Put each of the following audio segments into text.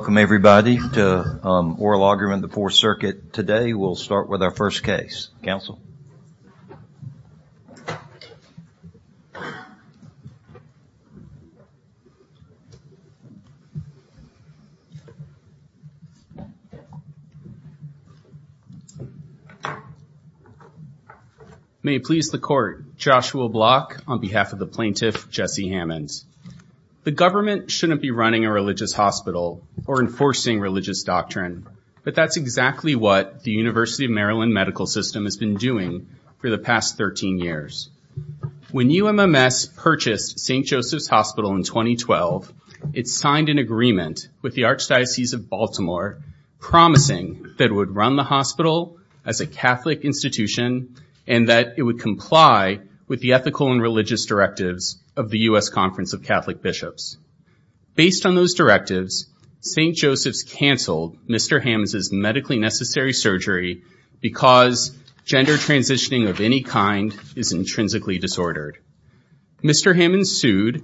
Welcome everybody to Oral Argument of the Fourth Circuit. Today we'll start with our first case. Council. May it please the court, Joshua Block on behalf of the plaintiff Jesse Hammons. The government shouldn't be running a religious hospital or enforcing religious doctrine, but that's exactly what the University of Maryland Medical System has been doing for the past 13 years. When UMMS purchased St. Joseph's Hospital in 2012, it signed an agreement with the Archdiocese of Baltimore promising that it would run the hospital as a Catholic institution and that it would comply with the ethical and religious directives of the U.S. Conference of Catholic Based on those directives, St. Joseph's canceled Mr. Hammons' medically necessary surgery because gender transitioning of any kind is intrinsically disordered. Mr. Hammons sued,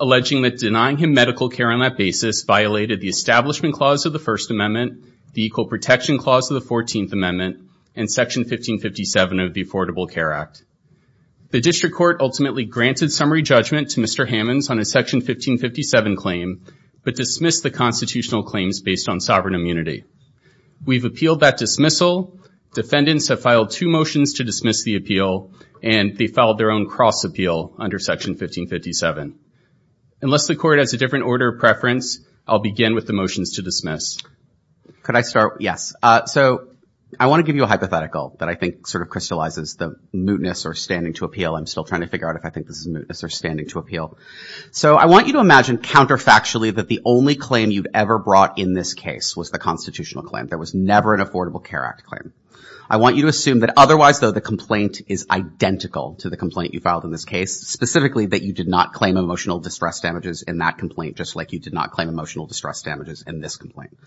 alleging that denying him medical care on that basis violated the Establishment Clause of the First Amendment, the Equal Protection Clause of the Fourteenth Amendment, and Section 1557 of the Affordable Care Act. The District Court ultimately granted summary judgment to Mr. Hammons on a Section 1557 claim, but dismissed the constitutional claims based on sovereign immunity. We've appealed that dismissal. Defendants have filed two motions to dismiss the appeal, and they filed their own cross-appeal under Section 1557. Unless the Court has a different order of preference, I'll begin with the motions to dismiss. Could I start? Yes. So I want to give you a hypothetical that I think sort of crystallizes the mootness or standing to appeal. I'm still trying to figure out if I think this is mootness or standing to appeal. So I want you to imagine counterfactually that the only claim you've ever brought in this case was the constitutional claim. There was never an Affordable Care Act claim. I want you to assume that otherwise, though, the complaint is identical to the complaint you filed in this case, specifically that you did not claim emotional distress damages in that complaint, just like you did not claim emotional distress damages in this complaint.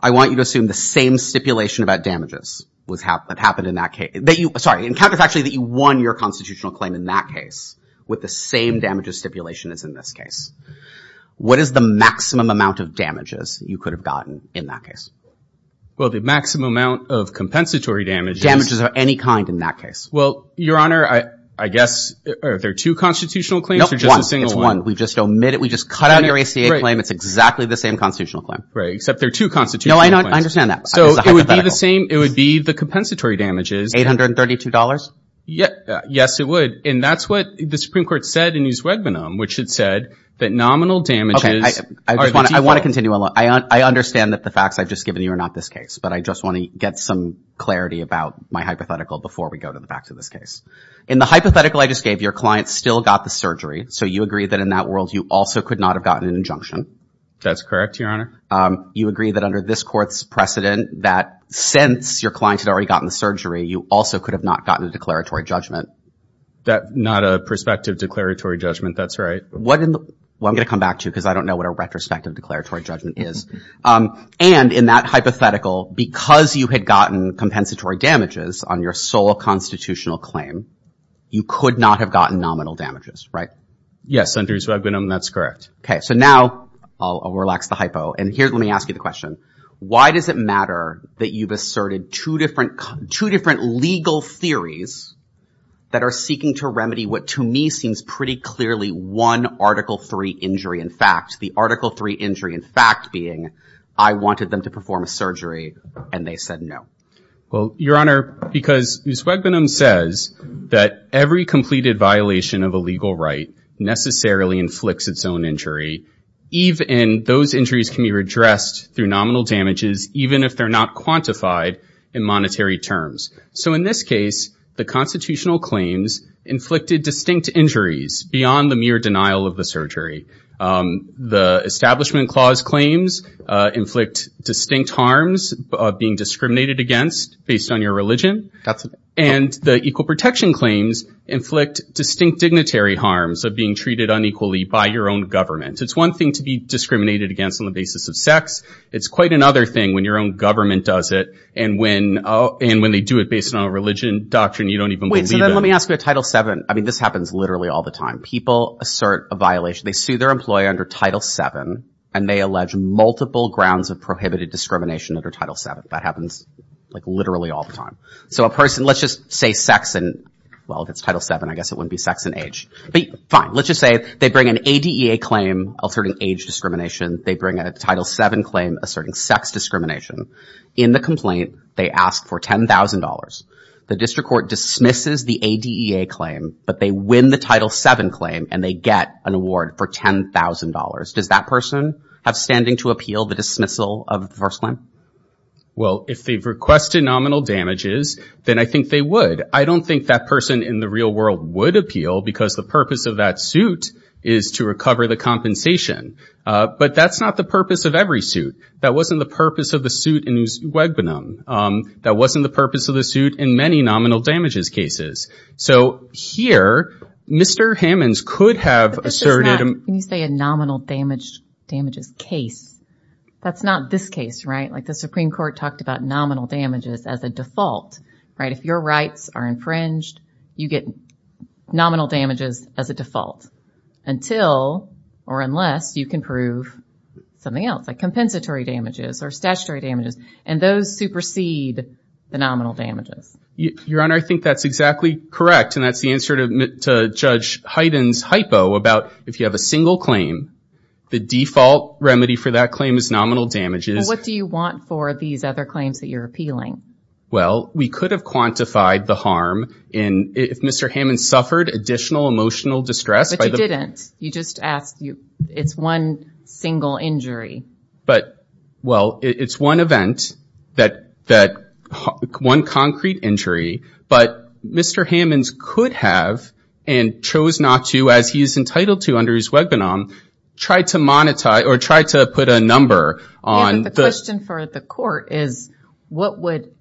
I want you to assume the same stipulation about damages that happened in that case that you, sorry, and counterfactually that you won your constitutional claim in that case with the same damages stipulation as in this case. What is the maximum amount of damages you could have gotten in that case? Well, the maximum amount of compensatory damages. Damages of any kind in that case. Well, Your Honor, I guess, are there two constitutional claims or just a single one? No, one. It's one. We've just omitted, we've just cut out your ACA claim. It's exactly the same constitutional claim. Right, except there are two constitutional claims. No, I understand that. It's a hypothetical. So it would be the same, it would be the compensatory damages. Eight hundred and thirty-two dollars? Yes, it would. And that's what the Supreme Court said in Newswedbenam, which had said that nominal damages are the default. I want to continue. I understand that the facts I've just given you are not this case, but I just want to get some clarity about my hypothetical before we go to the facts of this case. In the hypothetical I just gave, your client still got the surgery. So you agree that in that world, you also could not have gotten an injunction. That's correct, Your Honor. You agree that under this court's precedent, that since your client had already gotten the surgery, you also could have not gotten a declaratory judgment. Not a prospective declaratory judgment, that's right. Well, I'm going to come back to you because I don't know what a retrospective declaratory judgment is. And in that hypothetical, because you had gotten compensatory damages on your sole constitutional claim, you could not have gotten nominal damages, right? Yes, under Newswedbenam, that's correct. Okay, so now I'll relax the hypo. And here, let me ask you the question. Why does it matter that you've asserted two different legal theories that are seeking to remedy what to me seems pretty clearly one Article III injury in fact, the Article III injury in fact being I wanted them to perform a surgery and they said no? Well, Your Honor, because Newswedbenam says that every completed violation of a legal right necessarily inflicts its own injury. Even those injuries can be redressed through nominal damages, even if they're not quantified in monetary terms. So in this case, the constitutional claims inflicted distinct injuries beyond the mere denial of the surgery. The Establishment Clause claims inflict distinct harms of being discriminated against based on your religion. And the Equal Protection claims inflict distinct dignitary harms of being treated unequally by your own government. It's one thing to be discriminated against on the basis of sex. It's quite another thing when your own government does it. And when they do it based on a religion, doctrine, you don't even believe it. Wait, so then let me ask you a Title VII. I mean, this happens literally all the time. People assert a violation. They sue their employer under Title VII and they allege multiple grounds of prohibited discrimination under Title VII. That happens like literally all the time. So a person, let's just say sex and well, if it's Title VII, I guess it wouldn't be sex and age. But fine, let's just say they bring an ADEA claim alerting age discrimination. They bring a Title VII claim asserting sex discrimination. In the complaint, they ask for $10,000. The district court dismisses the ADEA claim, but they win the Title VII claim and they get an award for $10,000. Does that person have standing to appeal the dismissal of the first claim? Well, if they've requested nominal damages, then I think they would. I don't think that person in the real world would appeal because the purpose of that suit is to recover the compensation. But that's not the purpose of every suit. That wasn't the purpose of the suit in Uswegbenim. That wasn't the purpose of the suit in many nominal damages cases. So here, Mr. Hammons could have asserted- Can you say a nominal damages case? That's not this case, right? Like the Supreme Court talked about nominal damages as a default, right? If your rights are infringed, you get or unless you can prove something else, like compensatory damages or statutory damages. And those supersede the nominal damages. Your Honor, I think that's exactly correct. And that's the answer to Judge Hyden's hypo about if you have a single claim, the default remedy for that claim is nominal damages. What do you want for these other claims that you're appealing? Well, we could have quantified the harm in if Mr. Hammons suffered additional emotional distress by the- It's one single injury. But well, it's one event that one concrete injury, but Mr. Hammons could have and chose not to, as he's entitled to under Uswegbenim, try to monetize or try to put a number on- The question for the court is what would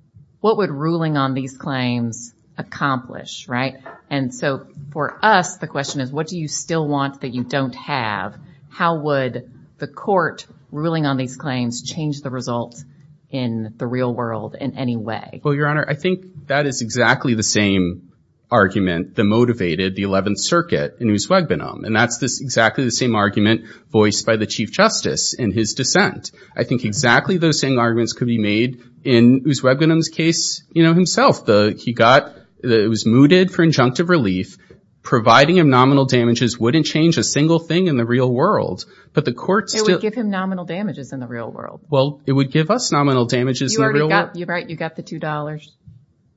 ruling on these claims accomplish, right? And so for us, the question is what do you still want that you don't have? How would the court ruling on these claims change the results in the real world in any way? Well, Your Honor, I think that is exactly the same argument that motivated the 11th Circuit in Uswegbenim. And that's this exactly the same argument voiced by the Chief Justice in his dissent. I think exactly those same arguments could be made in Uswegbenim's case, you know, himself. He was mooted for injunctive relief. Providing him nominal damages wouldn't change a single thing in the real world. But the court still- It would give him nominal damages in the real world. Well, it would give us nominal damages in the real world. You're right. You got the $2.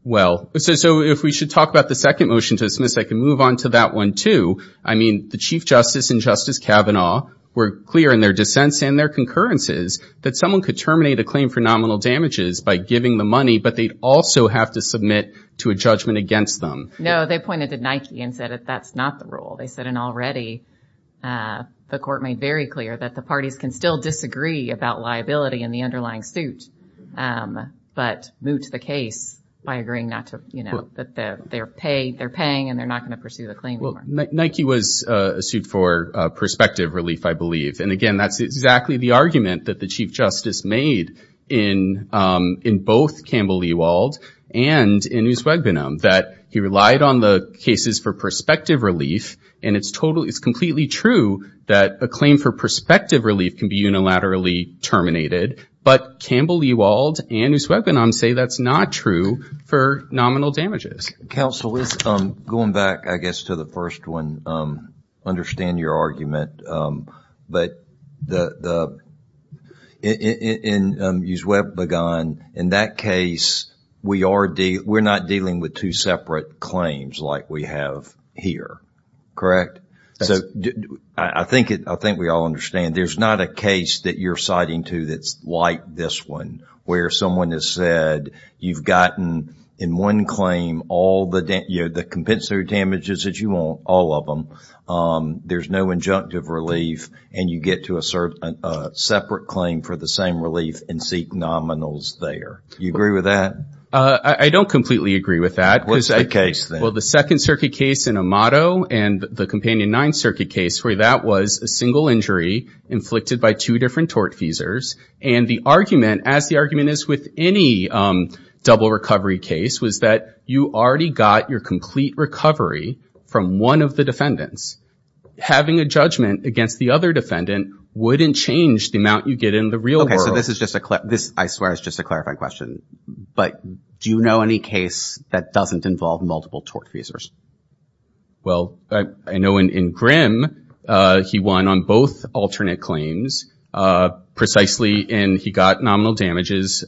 Well, so if we should talk about the second motion to dismiss, I can move on to that one too. I mean, the Chief Justice and Justice Kavanaugh were clear in their dissents and their concurrences that someone could terminate a claim for nominal damages by giving the money, but they'd also have to submit to a judgment against them. No, they pointed to Nike and said that that's not the rule. They said, and already the court made very clear that the parties can still disagree about liability in the underlying suit, but moot the case by agreeing not to, you know, that they're paying and they're not going to pursue the claim anymore. Well, Nike was sued for prospective relief, I believe. And again, that's exactly the argument that the Chief Justice made in both Campbell Ewald and in Uswegbenam, that he relied on the cases for prospective relief. And it's completely true that a claim for prospective relief can be unilaterally terminated, but Campbell Ewald and Uswegbenam say that's not true for nominal damages. Counsel, going back, I guess, to the first one, understand your argument. But the claim in Uswegbenam, in that case, we're not dealing with two separate claims like we have here, correct? So I think we all understand. There's not a case that you're citing to that's like this one, where someone has said, you've gotten in one claim all the compensatory damages that you want, all of them, there's no injunctive relief, and you get to assert a separate claim for the same relief and seek nominals there. Do you agree with that? I don't completely agree with that. What's the case then? Well, the Second Circuit case in Amato and the Companion 9 Circuit case, where that was a single injury inflicted by two different tortfeasors. And the argument, as the argument is with any double recovery case, was that you already got your complete recovery from one of the defendants. Having a judgment against the other defendant wouldn't change the amount you get in the real world. Okay, so this is just a, I swear it's just a clarifying question. But do you know any case that doesn't involve multiple tortfeasors? Well, I know in Grimm, he won on both alternate claims, precisely in he got nominal damages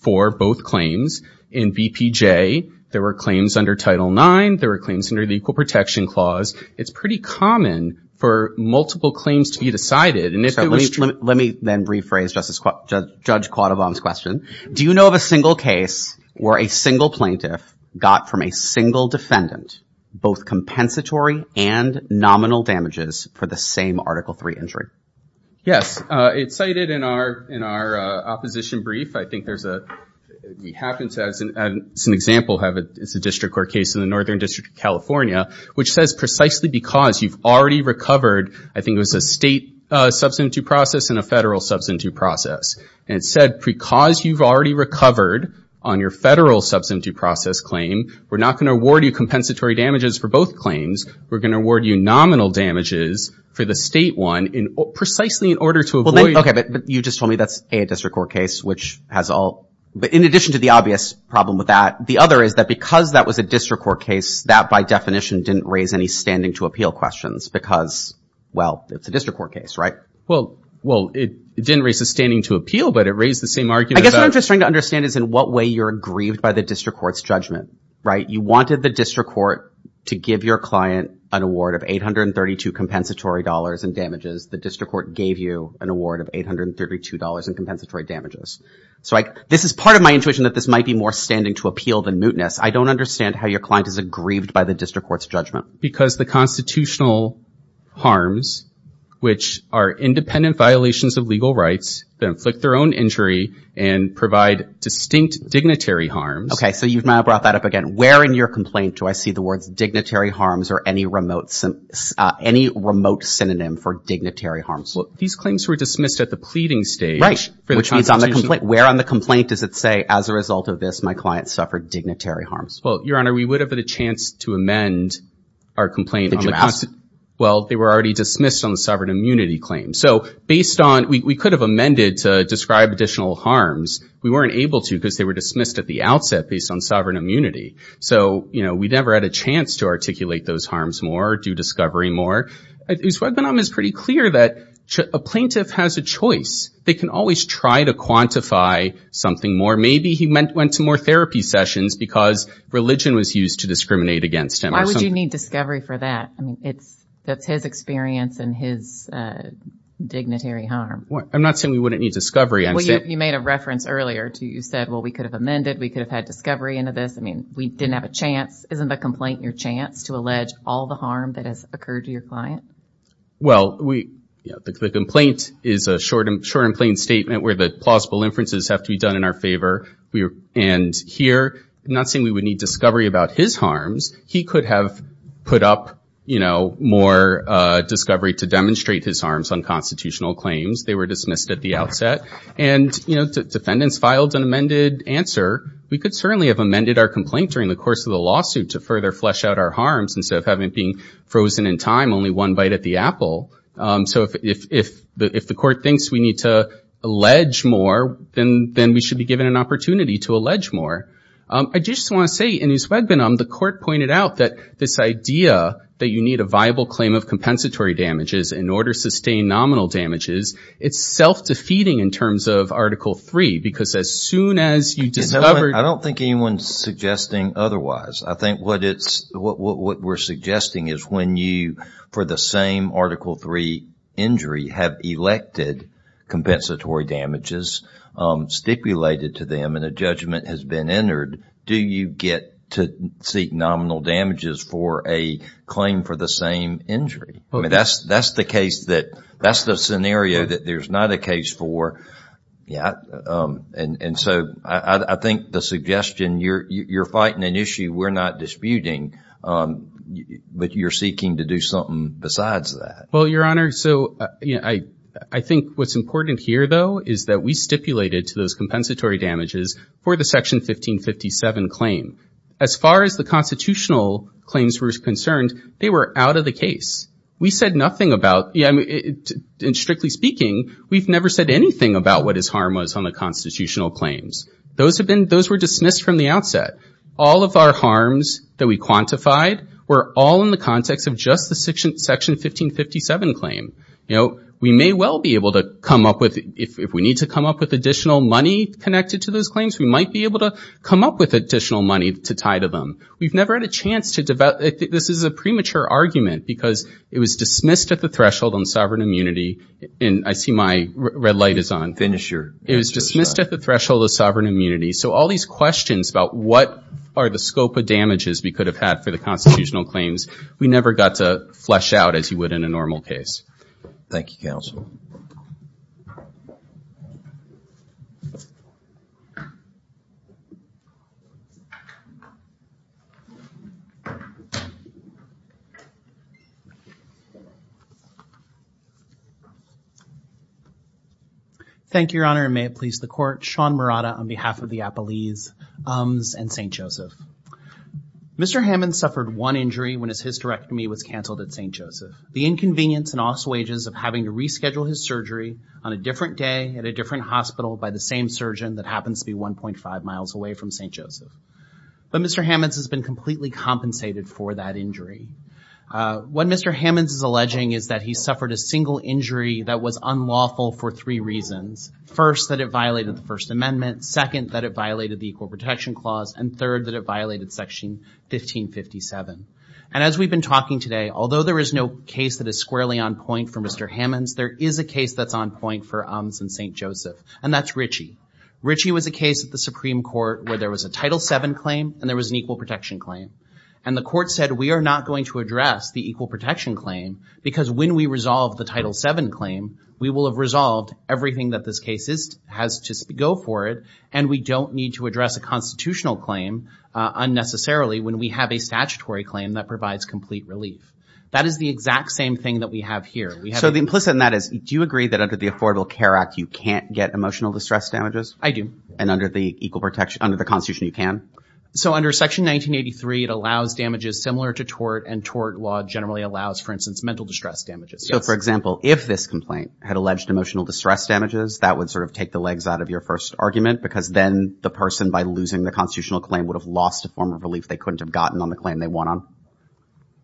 for both claims. In BPJ, there were claims under Title IX, there were claims under the Equal Protection Clause. It's pretty common for multiple claims to be decided. Let me then rephrase Judge Quaddabom's question. Do you know of a single case where a single plaintiff got from a single defendant both compensatory and nominal damages for the same Article III injury? Yes, it's cited in our opposition brief. I think there's a, it happens to have, it's an example, it's a district court case in the Northern District of California, which says precisely because you've already recovered, I think it was a state substantive process and a federal substantive process. And it said because you've already recovered on your federal substantive process claim, we're not going to award you compensatory damages for both claims. We're going to award you nominal damages for the state one in precisely in order to avoid- Okay, but you just told me that's a district court case, which has all, but in addition to the obvious problem with that, the other is that because that was a district court case that by definition didn't raise any standing to appeal questions because, well, it's a district court case, right? Well, well, it didn't raise a standing to appeal, but it raised the same argument. I guess what I'm just trying to understand is in what way you're aggrieved by the district court's judgment, right? You wanted the district court to give your client an award of $832 compensatory dollars in damages. The district court gave you an award of $832 in compensatory damages. So this is part of my intuition that this might be more standing to appeal than mootness. I don't understand how your client is aggrieved by the district court's judgment. Because the constitutional harms, which are independent violations of legal rights that inflict their own injury and provide distinct dignitary harms- Okay. So you've now brought that up again. Where in your complaint do I see the words dignitary harms or any remote synonym for dignitary harms? Well, these claims were dismissed at the pleading stage for the constitution. Right. Which means on the complaint, where on the complaint does it say, as a result of this, my client suffered dignitary harms? Well, Your Honor, we would have had a chance to amend our complaint on the- Well, they were already dismissed on the sovereign immunity claim. So based on, we could have amended to describe additional harms. We weren't able to because they were dismissed at the sovereign immunity. So we never had a chance to articulate those harms more, do discovery more. His webinar is pretty clear that a plaintiff has a choice. They can always try to quantify something more. Maybe he went to more therapy sessions because religion was used to discriminate against him. Why would you need discovery for that? I mean, that's his experience and his dignitary harm. I'm not saying we wouldn't need discovery. Well, you made a reference earlier to, you said, well, we could have amended, we could have had discovery into this. I mean, we didn't have a chance. Isn't the complaint your chance to allege all the harm that has occurred to your client? Well, we, the complaint is a short and plain statement where the plausible inferences have to be done in our favor. And here, I'm not saying we would need discovery about his harms. He could have put up, you know, more discovery to demonstrate his harms on constitutional claims. They were dismissed at the outset. And, you know, defendants filed an amended answer. We could certainly have amended our complaint during the course of the lawsuit to further flesh out our harms instead of having it being frozen in time, only one bite at the apple. So if the court thinks we need to allege more, then we should be given an opportunity to allege more. I just want to say, in his webinar, the court pointed out that this idea that you need a viable claim of compensatory damages in order to sustain nominal damages, it's self-defeating in terms of Article III, because as soon as you discover... I don't think anyone's suggesting otherwise. I think what it's, what we're suggesting is when you, for the same Article III injury, have elected compensatory damages stipulated to them and a judgment has been entered, do you get to seek nominal damages for a claim for the same injury? I mean, that's the case that, that's the scenario that there's not a case for. And so I think the suggestion, you're fighting an issue we're not disputing, but you're seeking to do something besides that. Well, Your Honor, so I think what's important here, though, is that we stipulated to those compensatory damages for the Section 1557 claim. As far as the constitutional claims were concerned, they were out of the case. We said nothing about, and strictly speaking, we've never said anything about what his harm was on the constitutional claims. Those have been, those were dismissed from the outset. All of our harms that we quantified were all in the context of just the Section 1557 claim. You know, we may well be able to come up with, if we need to come up with additional money connected to those claims, we might be able to come up with additional money to tie to them. We've never had a chance to, this is a premature argument because it was dismissed at the threshold on sovereign immunity, and I see my red light is on, it was dismissed at the threshold of sovereign immunity. So all these questions about what are the scope of damages we could have had for the constitutional claims, we never got to flesh out as you would in a normal case. Thank you, Counsel. Thank you, Your Honor, and may it please the Court, Sean Murata on behalf of the Appellees, UMS, and St. Joseph. Mr. Hammond suffered one injury when his hysterectomy was canceled at St. Joseph. The inconvenience and also wages of having to reschedule his surgery on a different day at a different hospital by the same surgeon that happens to be 1.5 miles away from St. Joseph. But Mr. Hammond's has been completely compensated for that injury. What Mr. Hammond's is alleging is that he suffered a single injury that was unlawful for three reasons. First, that it violated the First Amendment, second, that it violated the Equal Protection Clause, and third, that it violated Section 1557. And as we've been talking today, although there is no case that is squarely on point for Mr. Hammond's, there is a case that's on point for UMS and St. Joseph, and that's Ritchie. Ritchie was a case at the Supreme Court where there was a Title VII claim and there was an Equal Protection Claim. And the Court said, we are not going to address the Equal Protection Claim because when we resolve the Title VII claim, we will have resolved everything that this case has to go for it, and we don't need to address a constitutional claim unnecessarily when we have a statutory claim that provides complete relief. That is the exact same thing that we have here. So the implicit in that is, do you agree that under the Affordable Care Act, you can't get emotional distress damages? I do. And under the Constitution, you can? So under Section 1983, it allows damages similar to tort, and tort law generally allows, for instance, mental distress damages. So, for example, if this complaint had alleged emotional distress damages, that would sort of take the legs out of your first argument because then the person, by losing the constitutional claim, would have lost a form of relief they couldn't have gotten on the claim they won on?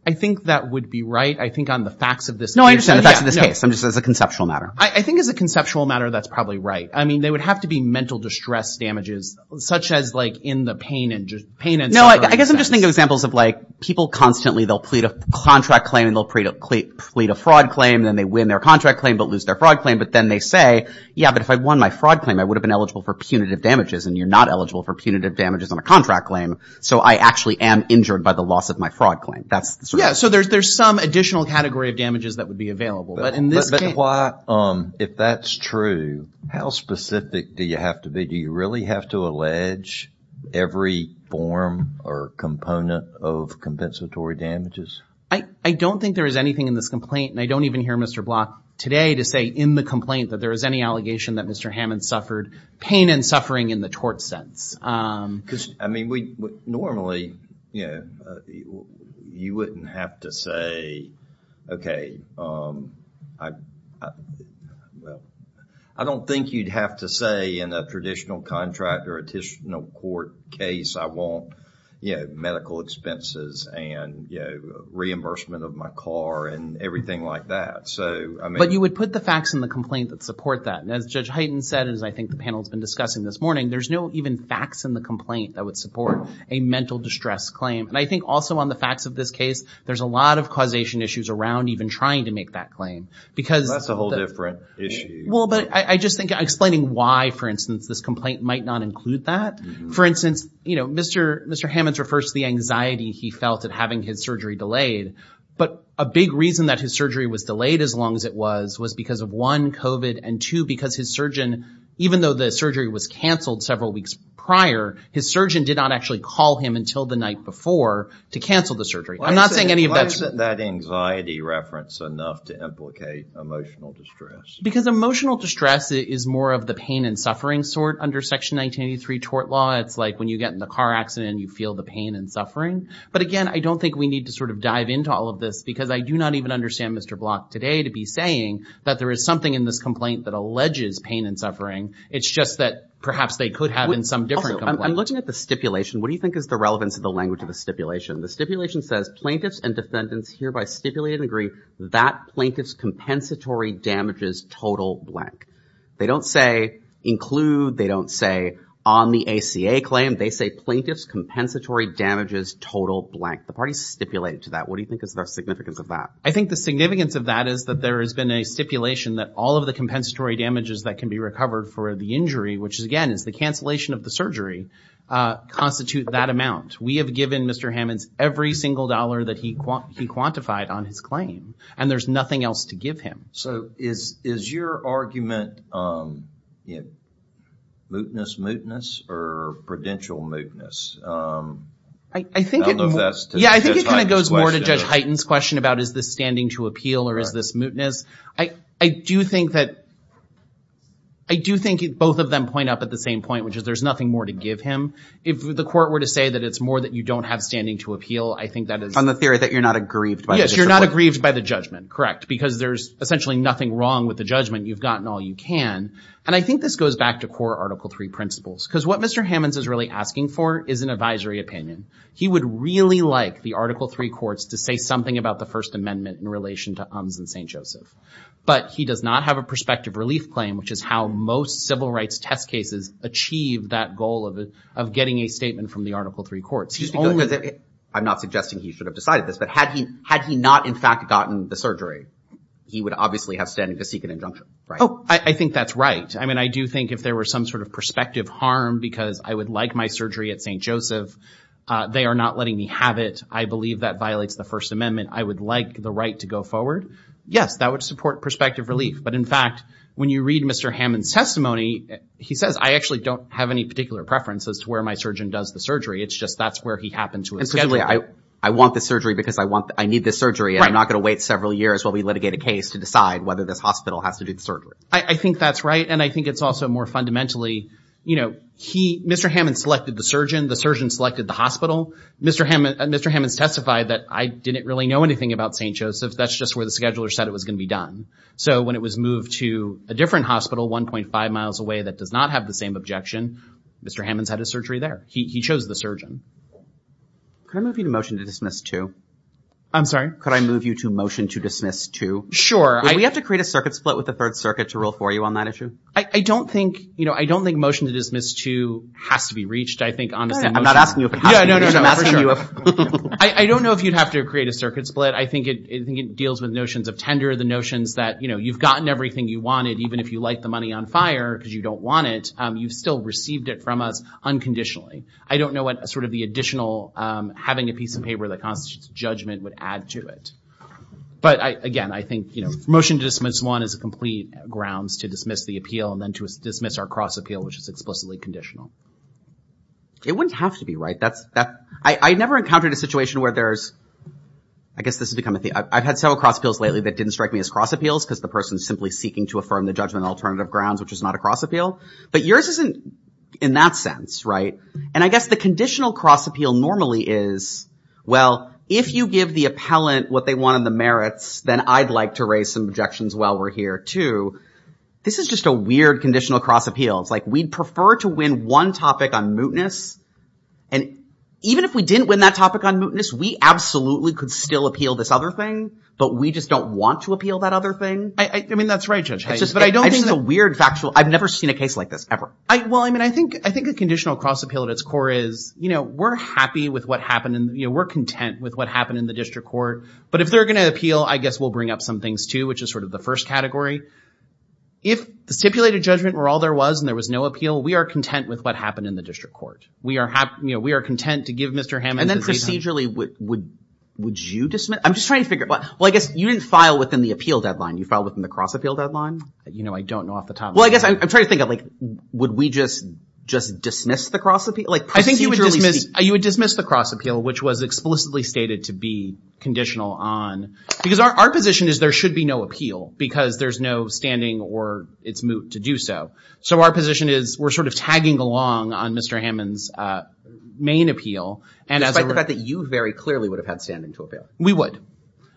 I think that would be right. I think on the facts of this case. No, I understand. The facts of this case. I'm just saying it's a conceptual matter. I think as a conceptual matter, that's probably right. I mean, they would have to be mental distress damages, such as like in the pain and just pain and suffering. No, I guess I'm just thinking of examples of like, people constantly, they'll plead a contract claim and they'll plead a fraud claim. Then they win their contract claim but lose their fraud claim. But then they say, yeah, but if I'd won my fraud claim, I would have been eligible for punitive damages. And you're not eligible for punitive damages on a contract claim. So I actually am injured by the loss of my fraud claim. Yeah, so there's some additional category of damages that would be available. But if that's true, how specific do you have to be? Do you really have to allege every form or component of compensatory damages? I don't think there is anything in this complaint. And I don't even hear Mr. Block today to say in the complaint that there is any allegation that Mr. Hammond suffered pain and suffering in the tort sense. Because, I mean, normally, you know, you wouldn't have to say, okay, I don't think you'd have to say in a traditional contract or additional court case, I want, you know, medical expenses and, you know, reimbursement of my car and everything like that. So, I mean. But you would put the facts in the complaint that support that. And as Judge Hyten said, and as I think the panel has been discussing this morning, there's no even facts in the complaint that would support a mental distress claim. And I think also on the facts of this case, there's a lot of causation issues around even trying to make that claim. Because that's a whole different issue. Well, but I just think explaining why, for instance, this complaint might not include that. For instance, you know, Mr. Hammond refers to the anxiety he felt at having his surgery delayed. But a big reason that his surgery was delayed as long as it was, was because of one, COVID, and two, because his surgeon, even though the surgery was canceled several weeks prior, his surgeon did not actually call him until the night before to cancel the surgery. I'm not saying any of that. Why isn't that anxiety reference enough to implicate emotional distress? Because emotional distress is more of the pain and suffering sort under Section 1983 tort law. It's like when you get in the car accident, you feel the pain and suffering. But again, I don't think we need to sort of dive into all of this because I do not even understand Mr. Block today to be saying that there is something in this complaint that alleges pain and suffering. It's just that perhaps they could have in some different complaint. Also, I'm looking at the stipulation. What do you think is the relevance of the language of the stipulation? The stipulation says plaintiffs and defendants hereby stipulate and agree that plaintiff's compensatory damages total blank. They don't say include. They don't say on the ACA claim. They say plaintiff's compensatory damages total blank. The party stipulated to that. What do you think is the significance of that? I think the significance of that is that there has been a stipulation that all of the compensatory damages that can be recovered for the injury, which again is the cancellation of the surgery, constitute that amount. We have given Mr. Hammonds every single dollar that he quantified on his claim. And there's nothing else to give him. So is your argument mootness mootness or prudential mootness? I think it goes more to Judge Hyten's question about is this standing to appeal or is this mootness. I do think that both of them point up at the same point, which is there's nothing more to give him. If the court were to say that it's more that you don't have standing to appeal, I think that is... On the theory that you're not aggrieved by the disappointment. Yes, you're not aggrieved by the judgment, correct, because there's essentially nothing wrong with the judgment. You've gotten all you can. And I think this goes back to core Article III principles, because what Mr. Hammonds is really asking for is an advisory opinion. He would really like the Article III courts to say something about the First Amendment in relation to UNS and St. Joseph, but he does not have a prospective relief claim, which is how most civil rights test cases achieve that goal of getting a statement from the Article III courts. I'm not suggesting he should have decided this, but had he not in fact gotten the surgery, he would obviously have standing to seek an injunction, right? Oh, I think that's right. I mean, I do think if there were some sort of prospective harm because I would like my surgery at St. Joseph, they are not letting me have it. I believe that violates the First Amendment. I would like the right to go forward. Yes, that would support prospective relief. But in fact, when you read Mr. Hammonds' testimony, he says, I actually don't have any particular preference as to where my surgeon does the surgery. It's just that's where he happened to have scheduled it. I want the surgery because I need the surgery, and I'm not going to wait several years while we litigate a case to decide whether this hospital has to do the surgery. I think that's right, and I think it's also more fundamentally, you know, he, Mr. Hammonds selected the surgeon. The surgeon selected the hospital. Mr. Hammonds testified that I didn't really know anything about St. Joseph. That's just where the scheduler said it was going to be done. So when it was moved to a different hospital 1.5 miles away that does not have the same objection, Mr. Hammonds had a surgery there. He chose the surgeon. Could I move you to motion to dismiss two? I'm sorry? Could I move you to motion to dismiss two? Would we have to create a circuit split with the Third Circuit to rule for you on that issue? I don't think, you know, I don't think motion to dismiss two has to be reached. I think honestly, I'm not asking you if it has to be reached. I'm asking you if... I don't know if you'd have to create a circuit split. I think it deals with notions of tender, the notions that, you know, you've gotten everything you wanted, even if you light the money on fire because you don't want it, you've still received it from us unconditionally. I don't know what sort of the additional having a piece of paper that constitutes judgment would add to it. But again, I think, you know, motion to dismiss one is a complete grounds to dismiss the appeal and then to dismiss our cross-appeal, which is explicitly conditional. It wouldn't have to be, right? That's... I never encountered a situation where there's... I guess this has become a thing. I've had several cross-appeals lately that didn't strike me as cross-appeals because the person is simply seeking to affirm the judgment on alternative grounds, which is not a cross-appeal. But yours isn't in that sense, right? And I guess the conditional cross-appeal normally is, well, if you give the appellant what they want in the merits, then I'd like to raise some objections while we're here too. This is just a weird conditional cross-appeal. It's like we'd prefer to win one topic on mootness. And even if we didn't win that topic on mootness, we absolutely could still appeal this other thing, but we just don't want to appeal that other thing. I mean, that's right, Judge. I just think it's a weird factual... I've never seen a case like this ever. Well, I mean, I think a conditional cross-appeal at its core is, we're happy with what happened and we're content with what happened in the district court. But if they're going to appeal, I guess we'll bring up some things too, which is sort of the first category. If the stipulated judgment were all there was and there was no appeal, we are content with what happened in the district court. We are content to give Mr. Hammond... And then procedurally, would you dismiss? I'm just trying to figure... Well, I guess you didn't file within the appeal deadline. You filed within the cross-appeal deadline. I don't know off the top of my head. Well, I guess I'm trying to think of, would we just dismiss the cross-appeal? I think you would dismiss the cross-appeal, which was explicitly stated to be conditional on... Because our position is there should be no appeal because there's no standing or it's moot to do so. So our position is, we're sort of tagging along on Mr. Hammond's main appeal. Despite the fact that you very clearly would have had standing to appeal. We would.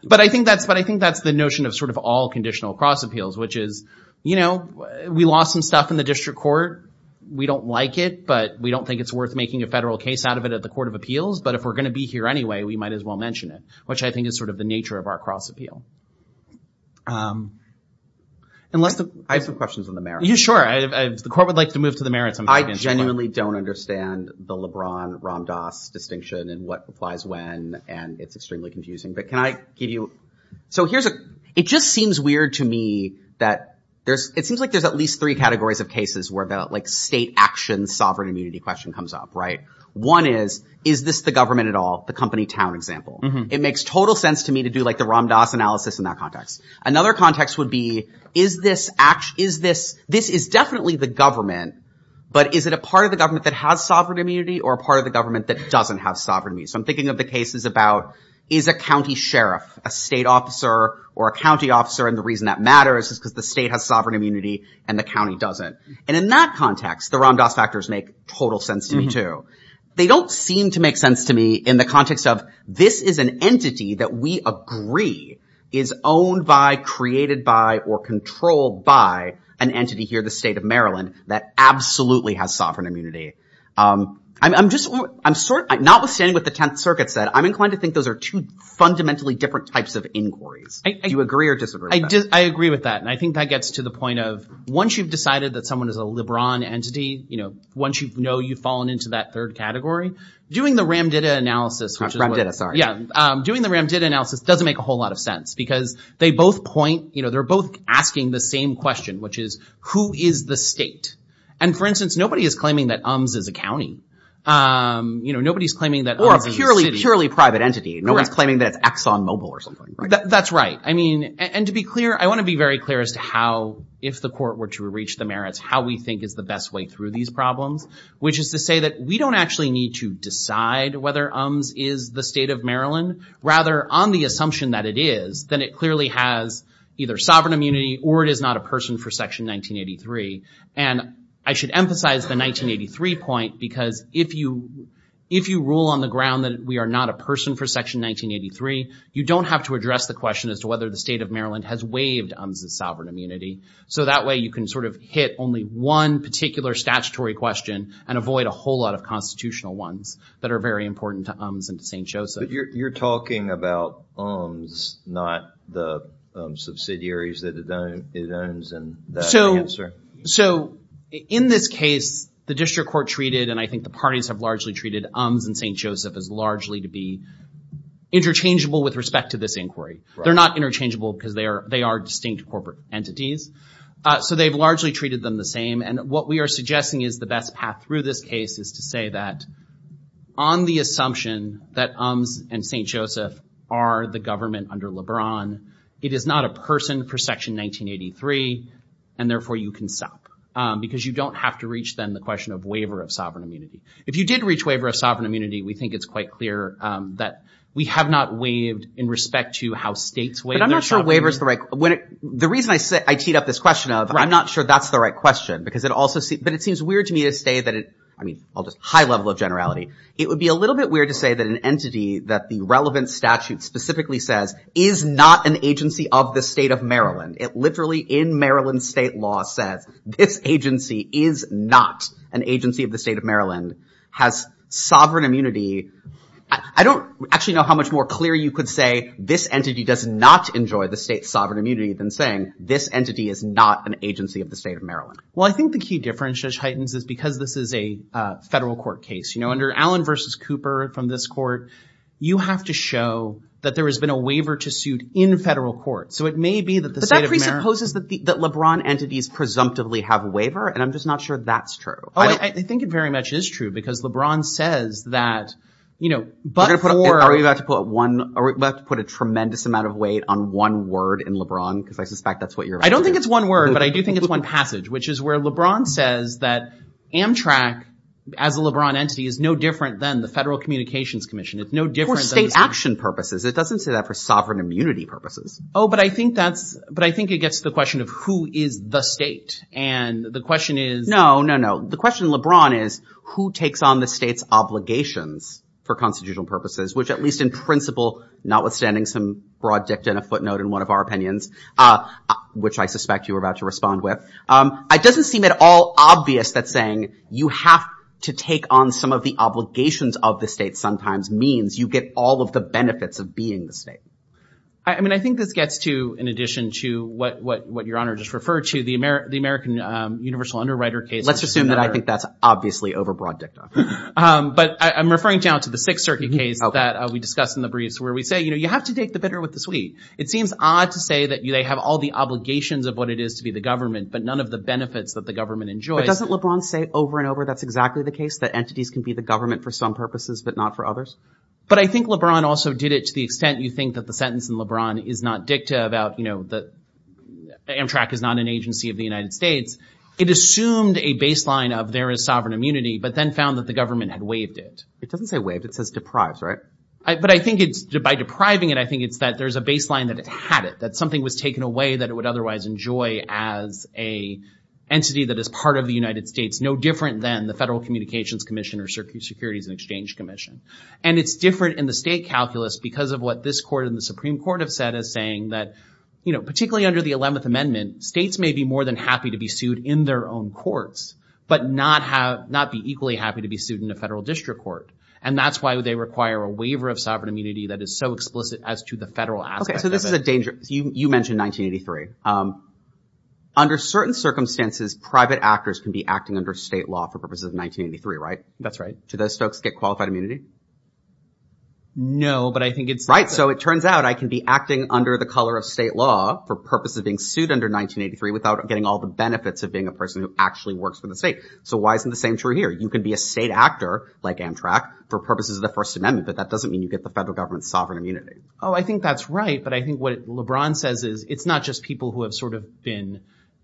But I think that's the notion of sort of all conditional cross-appeals, which is we lost some stuff in the district court. We don't like it, but we don't think it's worth making a federal case out of it at the court of appeals. But if we're going to be here anyway, we might as well mention it, which I think is sort of the nature of our cross-appeal. I have some questions on the merits. Sure. The court would like to move to the merits. I genuinely don't understand the LeBron-Ram Dass distinction and what applies when, and it's extremely confusing. But can I give you... It just seems weird to me that it seems like there's at least three categories of cases where the state action sovereign immunity question comes up. One is, is this the government at all? The company town example. It makes total sense to me to do the Ram Dass analysis in that context. Another context would be, this is definitely the government, but is it a part of the government that has sovereign immunity or a part of the government that doesn't have sovereign immunity? I'm thinking of the cases about, is a county sheriff, a state officer, or a county officer? And the reason that matters is because the state has sovereign immunity and the county doesn't. And in that context, the Ram Dass factors make total sense to me too. They don't seem to make sense to me in the context of, this is an entity that we agree is owned by, created by, or controlled by an entity here, the state of Maryland, that absolutely has sovereign immunity. Notwithstanding what the 10th circuit said, I'm inclined to think those are two fundamentally different types of inquiries. Do you agree or disagree with that? I agree with that. And I think that gets to the point of, once you've decided that someone is a LeBron entity, once you know you've fallen into that third category, doing the Ram Dass analysis... Ram Dass, sorry. Yeah. Doing the Ram Dass analysis doesn't make a whole lot of sense because they both point, they're both asking the same question, which is, who is the state? And for instance, nobody is claiming that UMS is a county. Nobody's claiming that... Or a purely, purely private entity. No one's claiming that it's Exxon Mobil or something. That's right. I mean, and to be clear, I want to be very clear as to how, if the court were to reach the merits, how we think is the best way through these problems, which is to say that we don't actually need to decide whether UMS is the state of Maryland. Rather, on the assumption that it is, then it clearly has either sovereign immunity or it is not a person for Section 1983. And I should emphasize the 1983 point because if you rule on the ground that we are not a person for Section 1983, you don't have to address the question as to whether the state of Maryland has waived UMS's sovereign immunity. So that way, you can sort of hit only one particular statutory question and avoid a whole lot of constitutional ones that are very important to UMS and to St. Joseph. You're talking about UMS, not the subsidiaries that it owns? So in this case, the district court treated, and I think the parties have largely treated, UMS and St. Joseph as largely to be interchangeable with respect to this inquiry. They're not interchangeable because they are distinct corporate entities. So they've largely treated them the same. And what we are suggesting is the best path through this case is to say that on the assumption that UMS and St. Joseph are the government under LeBron, it is not a person for Section 1983, and therefore, you can stop because you don't have to reach, then, the question of waiver of sovereign immunity. If you did reach waiver of sovereign immunity, we think it's quite clear that we have not waived in respect to how states waive their sovereign immunity. But I'm not sure waiver is the right, the reason I teed up this question of, I'm not sure that's the right question because it also, but it seems weird to me to say that it, I mean, just high level of generality, it would be a little bit weird to say that an entity that the relevant statute specifically says is not an agency of the state of Maryland. It literally, in Maryland state law, says this agency is not an agency of the state of Maryland, has sovereign immunity. I don't actually know how much more clear you could say this entity does not enjoy the state's sovereign immunity than saying this entity is not an agency of the state of Maryland. Well, I think the key difference, Judge Heitens, is because this is a federal court case. Under Allen versus Cooper, from this court, you have to show that there has been a waiver to suit in federal court. So it may be that the state of Maryland- But that presupposes that LeBron entities presumptively have waiver, and I'm just not sure that's true. Oh, I think it very much is true because LeBron says that, but for- Are we about to put a tremendous amount of weight on one word in LeBron, because I suspect that's what you're- I don't think it's one word, but I do think it's one passage, which is where LeBron says that Amtrak, as a LeBron entity, is no different than the Federal Communications Commission. It's no different than- For state action purposes. It doesn't say that for sovereign immunity purposes. Oh, but I think it gets to the question of who is the state, and the question is- No, no, no. The question, LeBron, is who takes on the state's obligations for constitutional purposes, which at least in principle, notwithstanding some broad dicta and a footnote in one of our opinions, which I suspect you were about to respond with, it doesn't seem at all obvious that saying you have to take on some of the obligations of the state sometimes means you get all of the benefits of being the state. I mean, I think this gets to, in addition to what Your Honor just referred to, the American universal underwriter case- Let's assume that I think that's obviously over broad dicta. But I'm referring down to the Sixth Circuit case that we discussed in the briefs where we say, you have to take the bitter with the sweet. It seems odd to say that they have all the obligations of what it is to be the government, but none of the benefits that the government enjoys. But doesn't LeBron say over and over that's exactly the case, that entities can be the government for some purposes, but not for others? But I think LeBron also did it to the extent you think that the sentence in LeBron is not dicta about Amtrak is not an agency of the United States. It assumed a baseline of there is sovereign immunity, but then found that the government had waived it. It doesn't say waived. It says deprived, right? But I think it's by depriving it, I think it's that there's a baseline that it had it, that something was taken away that it would otherwise enjoy as a entity that is part of the United States, no different than the Federal Communications Commission or Securities and Exchange Commission. And it's different in the state calculus because of what this court and the Supreme Court have said as saying that, particularly under the 11th Amendment, states may be more than happy to be sued in their own courts, but not be equally happy to be sued in a federal district court. And that's why they require a waiver of sovereign immunity that is so explicit as to the federal aspect of it. Okay, so this is a danger. You mentioned 1983. Under certain circumstances, private actors can be acting under state law for purposes of 1983, right? That's right. Do those folks get qualified immunity? No, but I think it's... Right. So it turns out I can be acting under the color of state law for purposes of being sued under 1983 without getting all the benefits of being a person who actually works for the state. So why isn't the same true here? You can be a state actor like Amtrak for purposes of the First Amendment, but that doesn't mean you get the federal government's sovereign immunity. Oh, I think that's right. But I think what LeBron says is it's not just people who have sort of been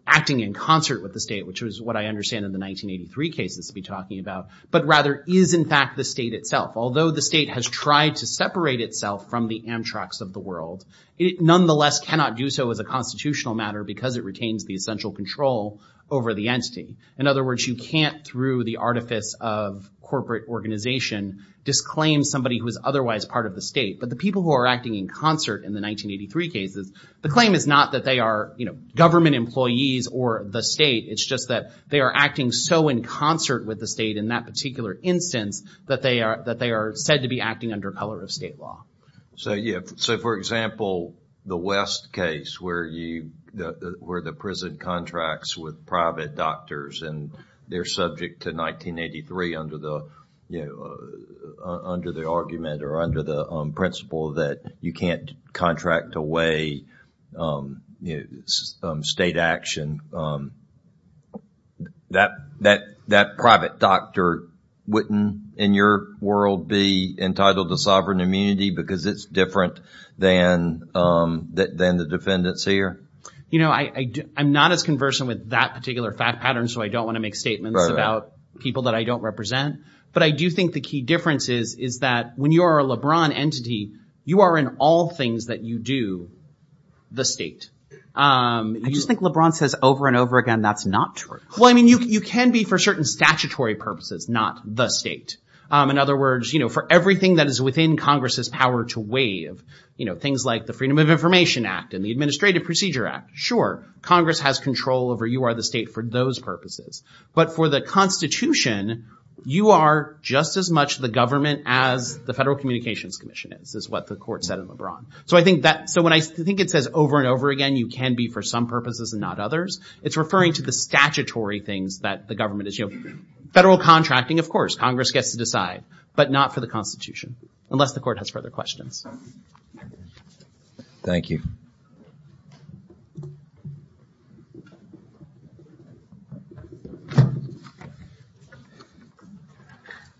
acting in concert with the state, which is what I understand in the 1983 cases to be talking about, but rather is in fact the state itself. Although the state has tried to separate itself from the Amtraks of the world, it nonetheless cannot do so as a constitutional matter because it retains the essential control over the entity. In other words, you can't, through the artifice of corporate organization, disclaim somebody who is otherwise part of the state. But the people who are acting in concert in the 1983 cases, the claim is not that they are government employees or the state. It's just that they are acting so in concert with the state in that particular instance that they are said to be acting under color of state law. So, for example, the West case where the prison contracts with private doctors and they're subject to 1983 under the argument or under the principle that you can't contract away state action, that private doctor wouldn't in your world be entitled to sovereign immunity because it's different than the defendants here? You know, I'm not as conversant with that particular fact pattern, so I don't want to make statements about people that I don't represent, but I do think the key difference is that when you are a LeBron entity, you are in all things that you do the state. I just think LeBron says over and over again, that's not true. Well, I mean, you can be for certain statutory purposes, not the state. In other words, for everything that is within Congress's power to waive, things like the Freedom of Information Act and the Administrative Procedure Act, sure, Congress has control over you are the state for those purposes. But for the Constitution, you are just as much the government as the Federal Communications Commission is, is what the court said in LeBron. So I think that, so when I think it says over and over again, you can be for some purposes and not others, it's referring to the statutory things that the government is, you know, federal contracting, of course, Congress gets to decide, but not for the Constitution, unless the court has further questions. Thank you.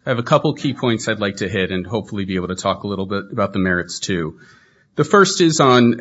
I have a couple key points I'd like to hit and hopefully be able to talk a little bit about the merits, too. The first is on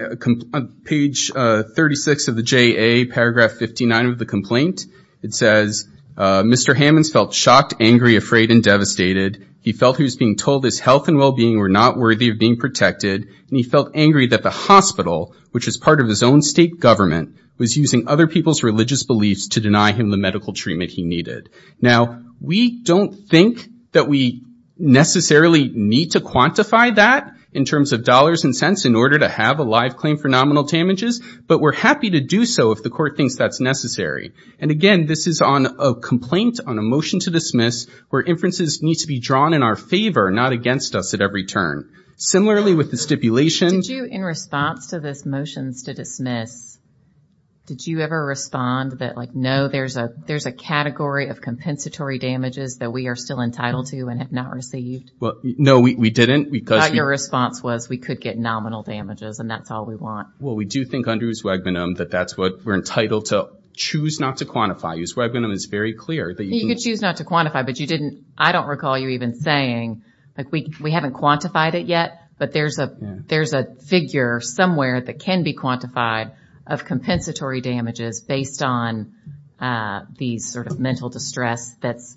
page 36 of the JA, paragraph 59 of the complaint. It says, Mr. Hammonds felt shocked, angry, afraid, and devastated. He felt he was being told his health and well-being were not worthy of being treated in the way that he was being treated, which is part of his own state government, was using other people's religious beliefs to deny him the medical treatment he needed. Now, we don't think that we necessarily need to quantify that in terms of dollars and cents in order to have a live claim for nominal damages, but we're happy to do so if the court thinks that's necessary. And again, this is on a complaint on a motion to dismiss where inferences need to be drawn in our favor, not against us at every turn. Similarly, with the stipulation... Did you, in response to this motion to dismiss, did you ever respond that, like, no, there's a category of compensatory damages that we are still entitled to and have not received? No, we didn't. But your response was, we could get nominal damages, and that's all we want. Well, we do think under ex-wagnum that that's what we're entitled to choose not to quantify. Ex-wagnum is very clear that you can... Choose not to quantify, but I don't recall you even saying, like, we haven't quantified it yet, but there's a figure somewhere that can be quantified of compensatory damages based on the sort of mental distress that's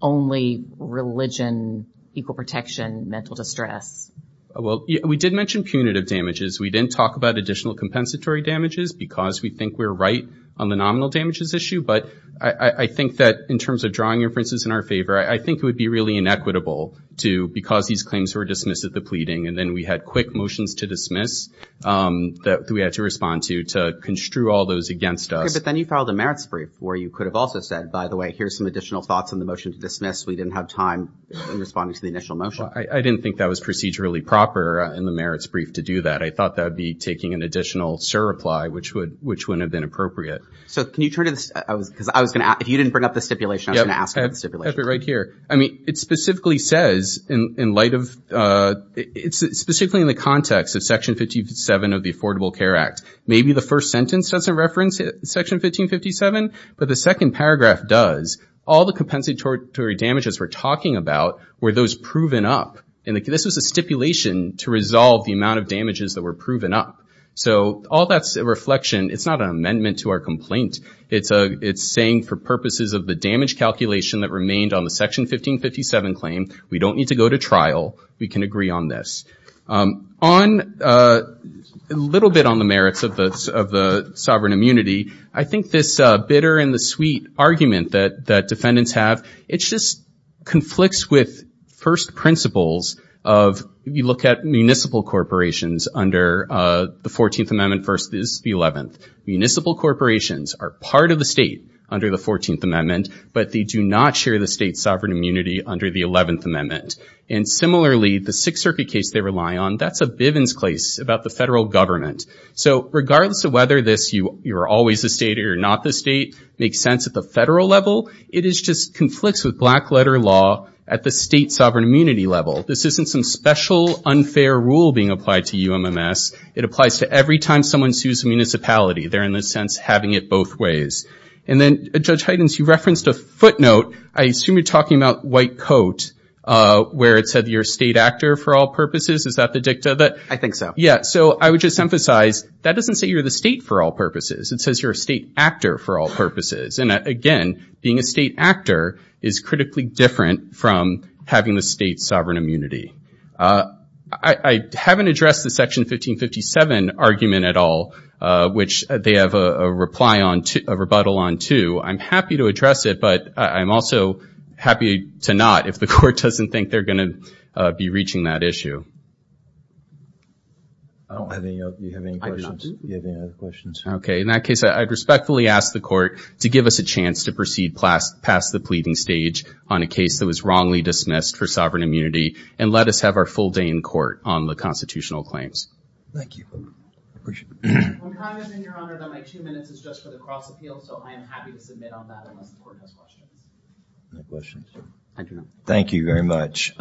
only religion, equal protection, mental distress. Well, we did mention punitive damages. We didn't talk about additional compensatory damages because we think we're right on the nominal damages issue, but I think that in terms of drawing inferences in our favor, I think it would be really inequitable to, because these claims were dismissed at the pleading, and then we had quick motions to dismiss that we had to respond to, to construe all those against us. Okay, but then you filed a merits brief where you could have also said, by the way, here's some additional thoughts on the motion to dismiss. We didn't have time in responding to the initial motion. I didn't think that was procedurally proper in the merits brief to do that. I thought that would be taking an additional surreply, which wouldn't have been appropriate. So can you turn to this, because I was going to ask, if you didn't bring up the stipulation, I was going to ask about the stipulation. Yep, I have it right here. I mean, it specifically says, in light of, it's specifically in the context of Section 1557 of the Affordable Care Act. Maybe the first sentence doesn't reference Section 1557, but the second paragraph does. All the compensatory damages we're talking about were those proven up, and this was a stipulation to resolve the amount of damages that were proven up. So all that's a reflection. It's not an amendment to our complaint. It's saying, for purposes of the damage calculation that remained on the Section 1557 claim, we don't need to go to trial. We can agree on this. A little bit on the merits of the sovereign immunity. I think this bitter-in-the-sweet argument that defendants have, it just conflicts with first principles of, you look at municipal corporations under the 14th Amendment versus the 11th. Municipal corporations are part of the state under the 14th Amendment, but they do not share the state's sovereign immunity under the 11th Amendment. And similarly, the Sixth Circuit case they rely on, that's a Bivens case about the federal government. So regardless of whether you're always a state or you're not the state, makes sense at the federal level, it just conflicts with black-letter law at the state sovereign immunity level. This isn't some special unfair rule being applied to you, MMS. It applies to every time someone sues a municipality. They're, in a sense, having it both ways. And then, Judge Heidens, you referenced a footnote. I assume you're talking about white coat, where it said you're a state actor for all purposes. Is that the dicta that? I think so. Yeah, so I would just emphasize, that doesn't say you're the state for all purposes. It says you're a state actor for all purposes. And again, being a state actor is critically different from having the state's sovereign immunity. I haven't addressed the Section 1557 argument at all, which they have a rebuttal on, too. I'm happy to address it, but I'm also happy to not, if the court doesn't think they're going to be reaching that issue. Do you have any questions? I do. Do you have any other questions? Okay. In that case, I'd respectfully ask the court to give us a chance to proceed past the pleading stage on a case that was wrongly dismissed for sovereign immunity, and let us have our full day in court on the constitutional claims. Thank you. When time is in, Your Honor, my two minutes is just for the cross appeal, so I am happy to submit on that unless the court has questions. No questions? Thank you, Your Honor. Thank you very much.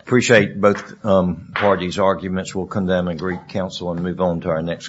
Appreciate both parties' arguments. We'll come down and greet counsel and move on to our next case.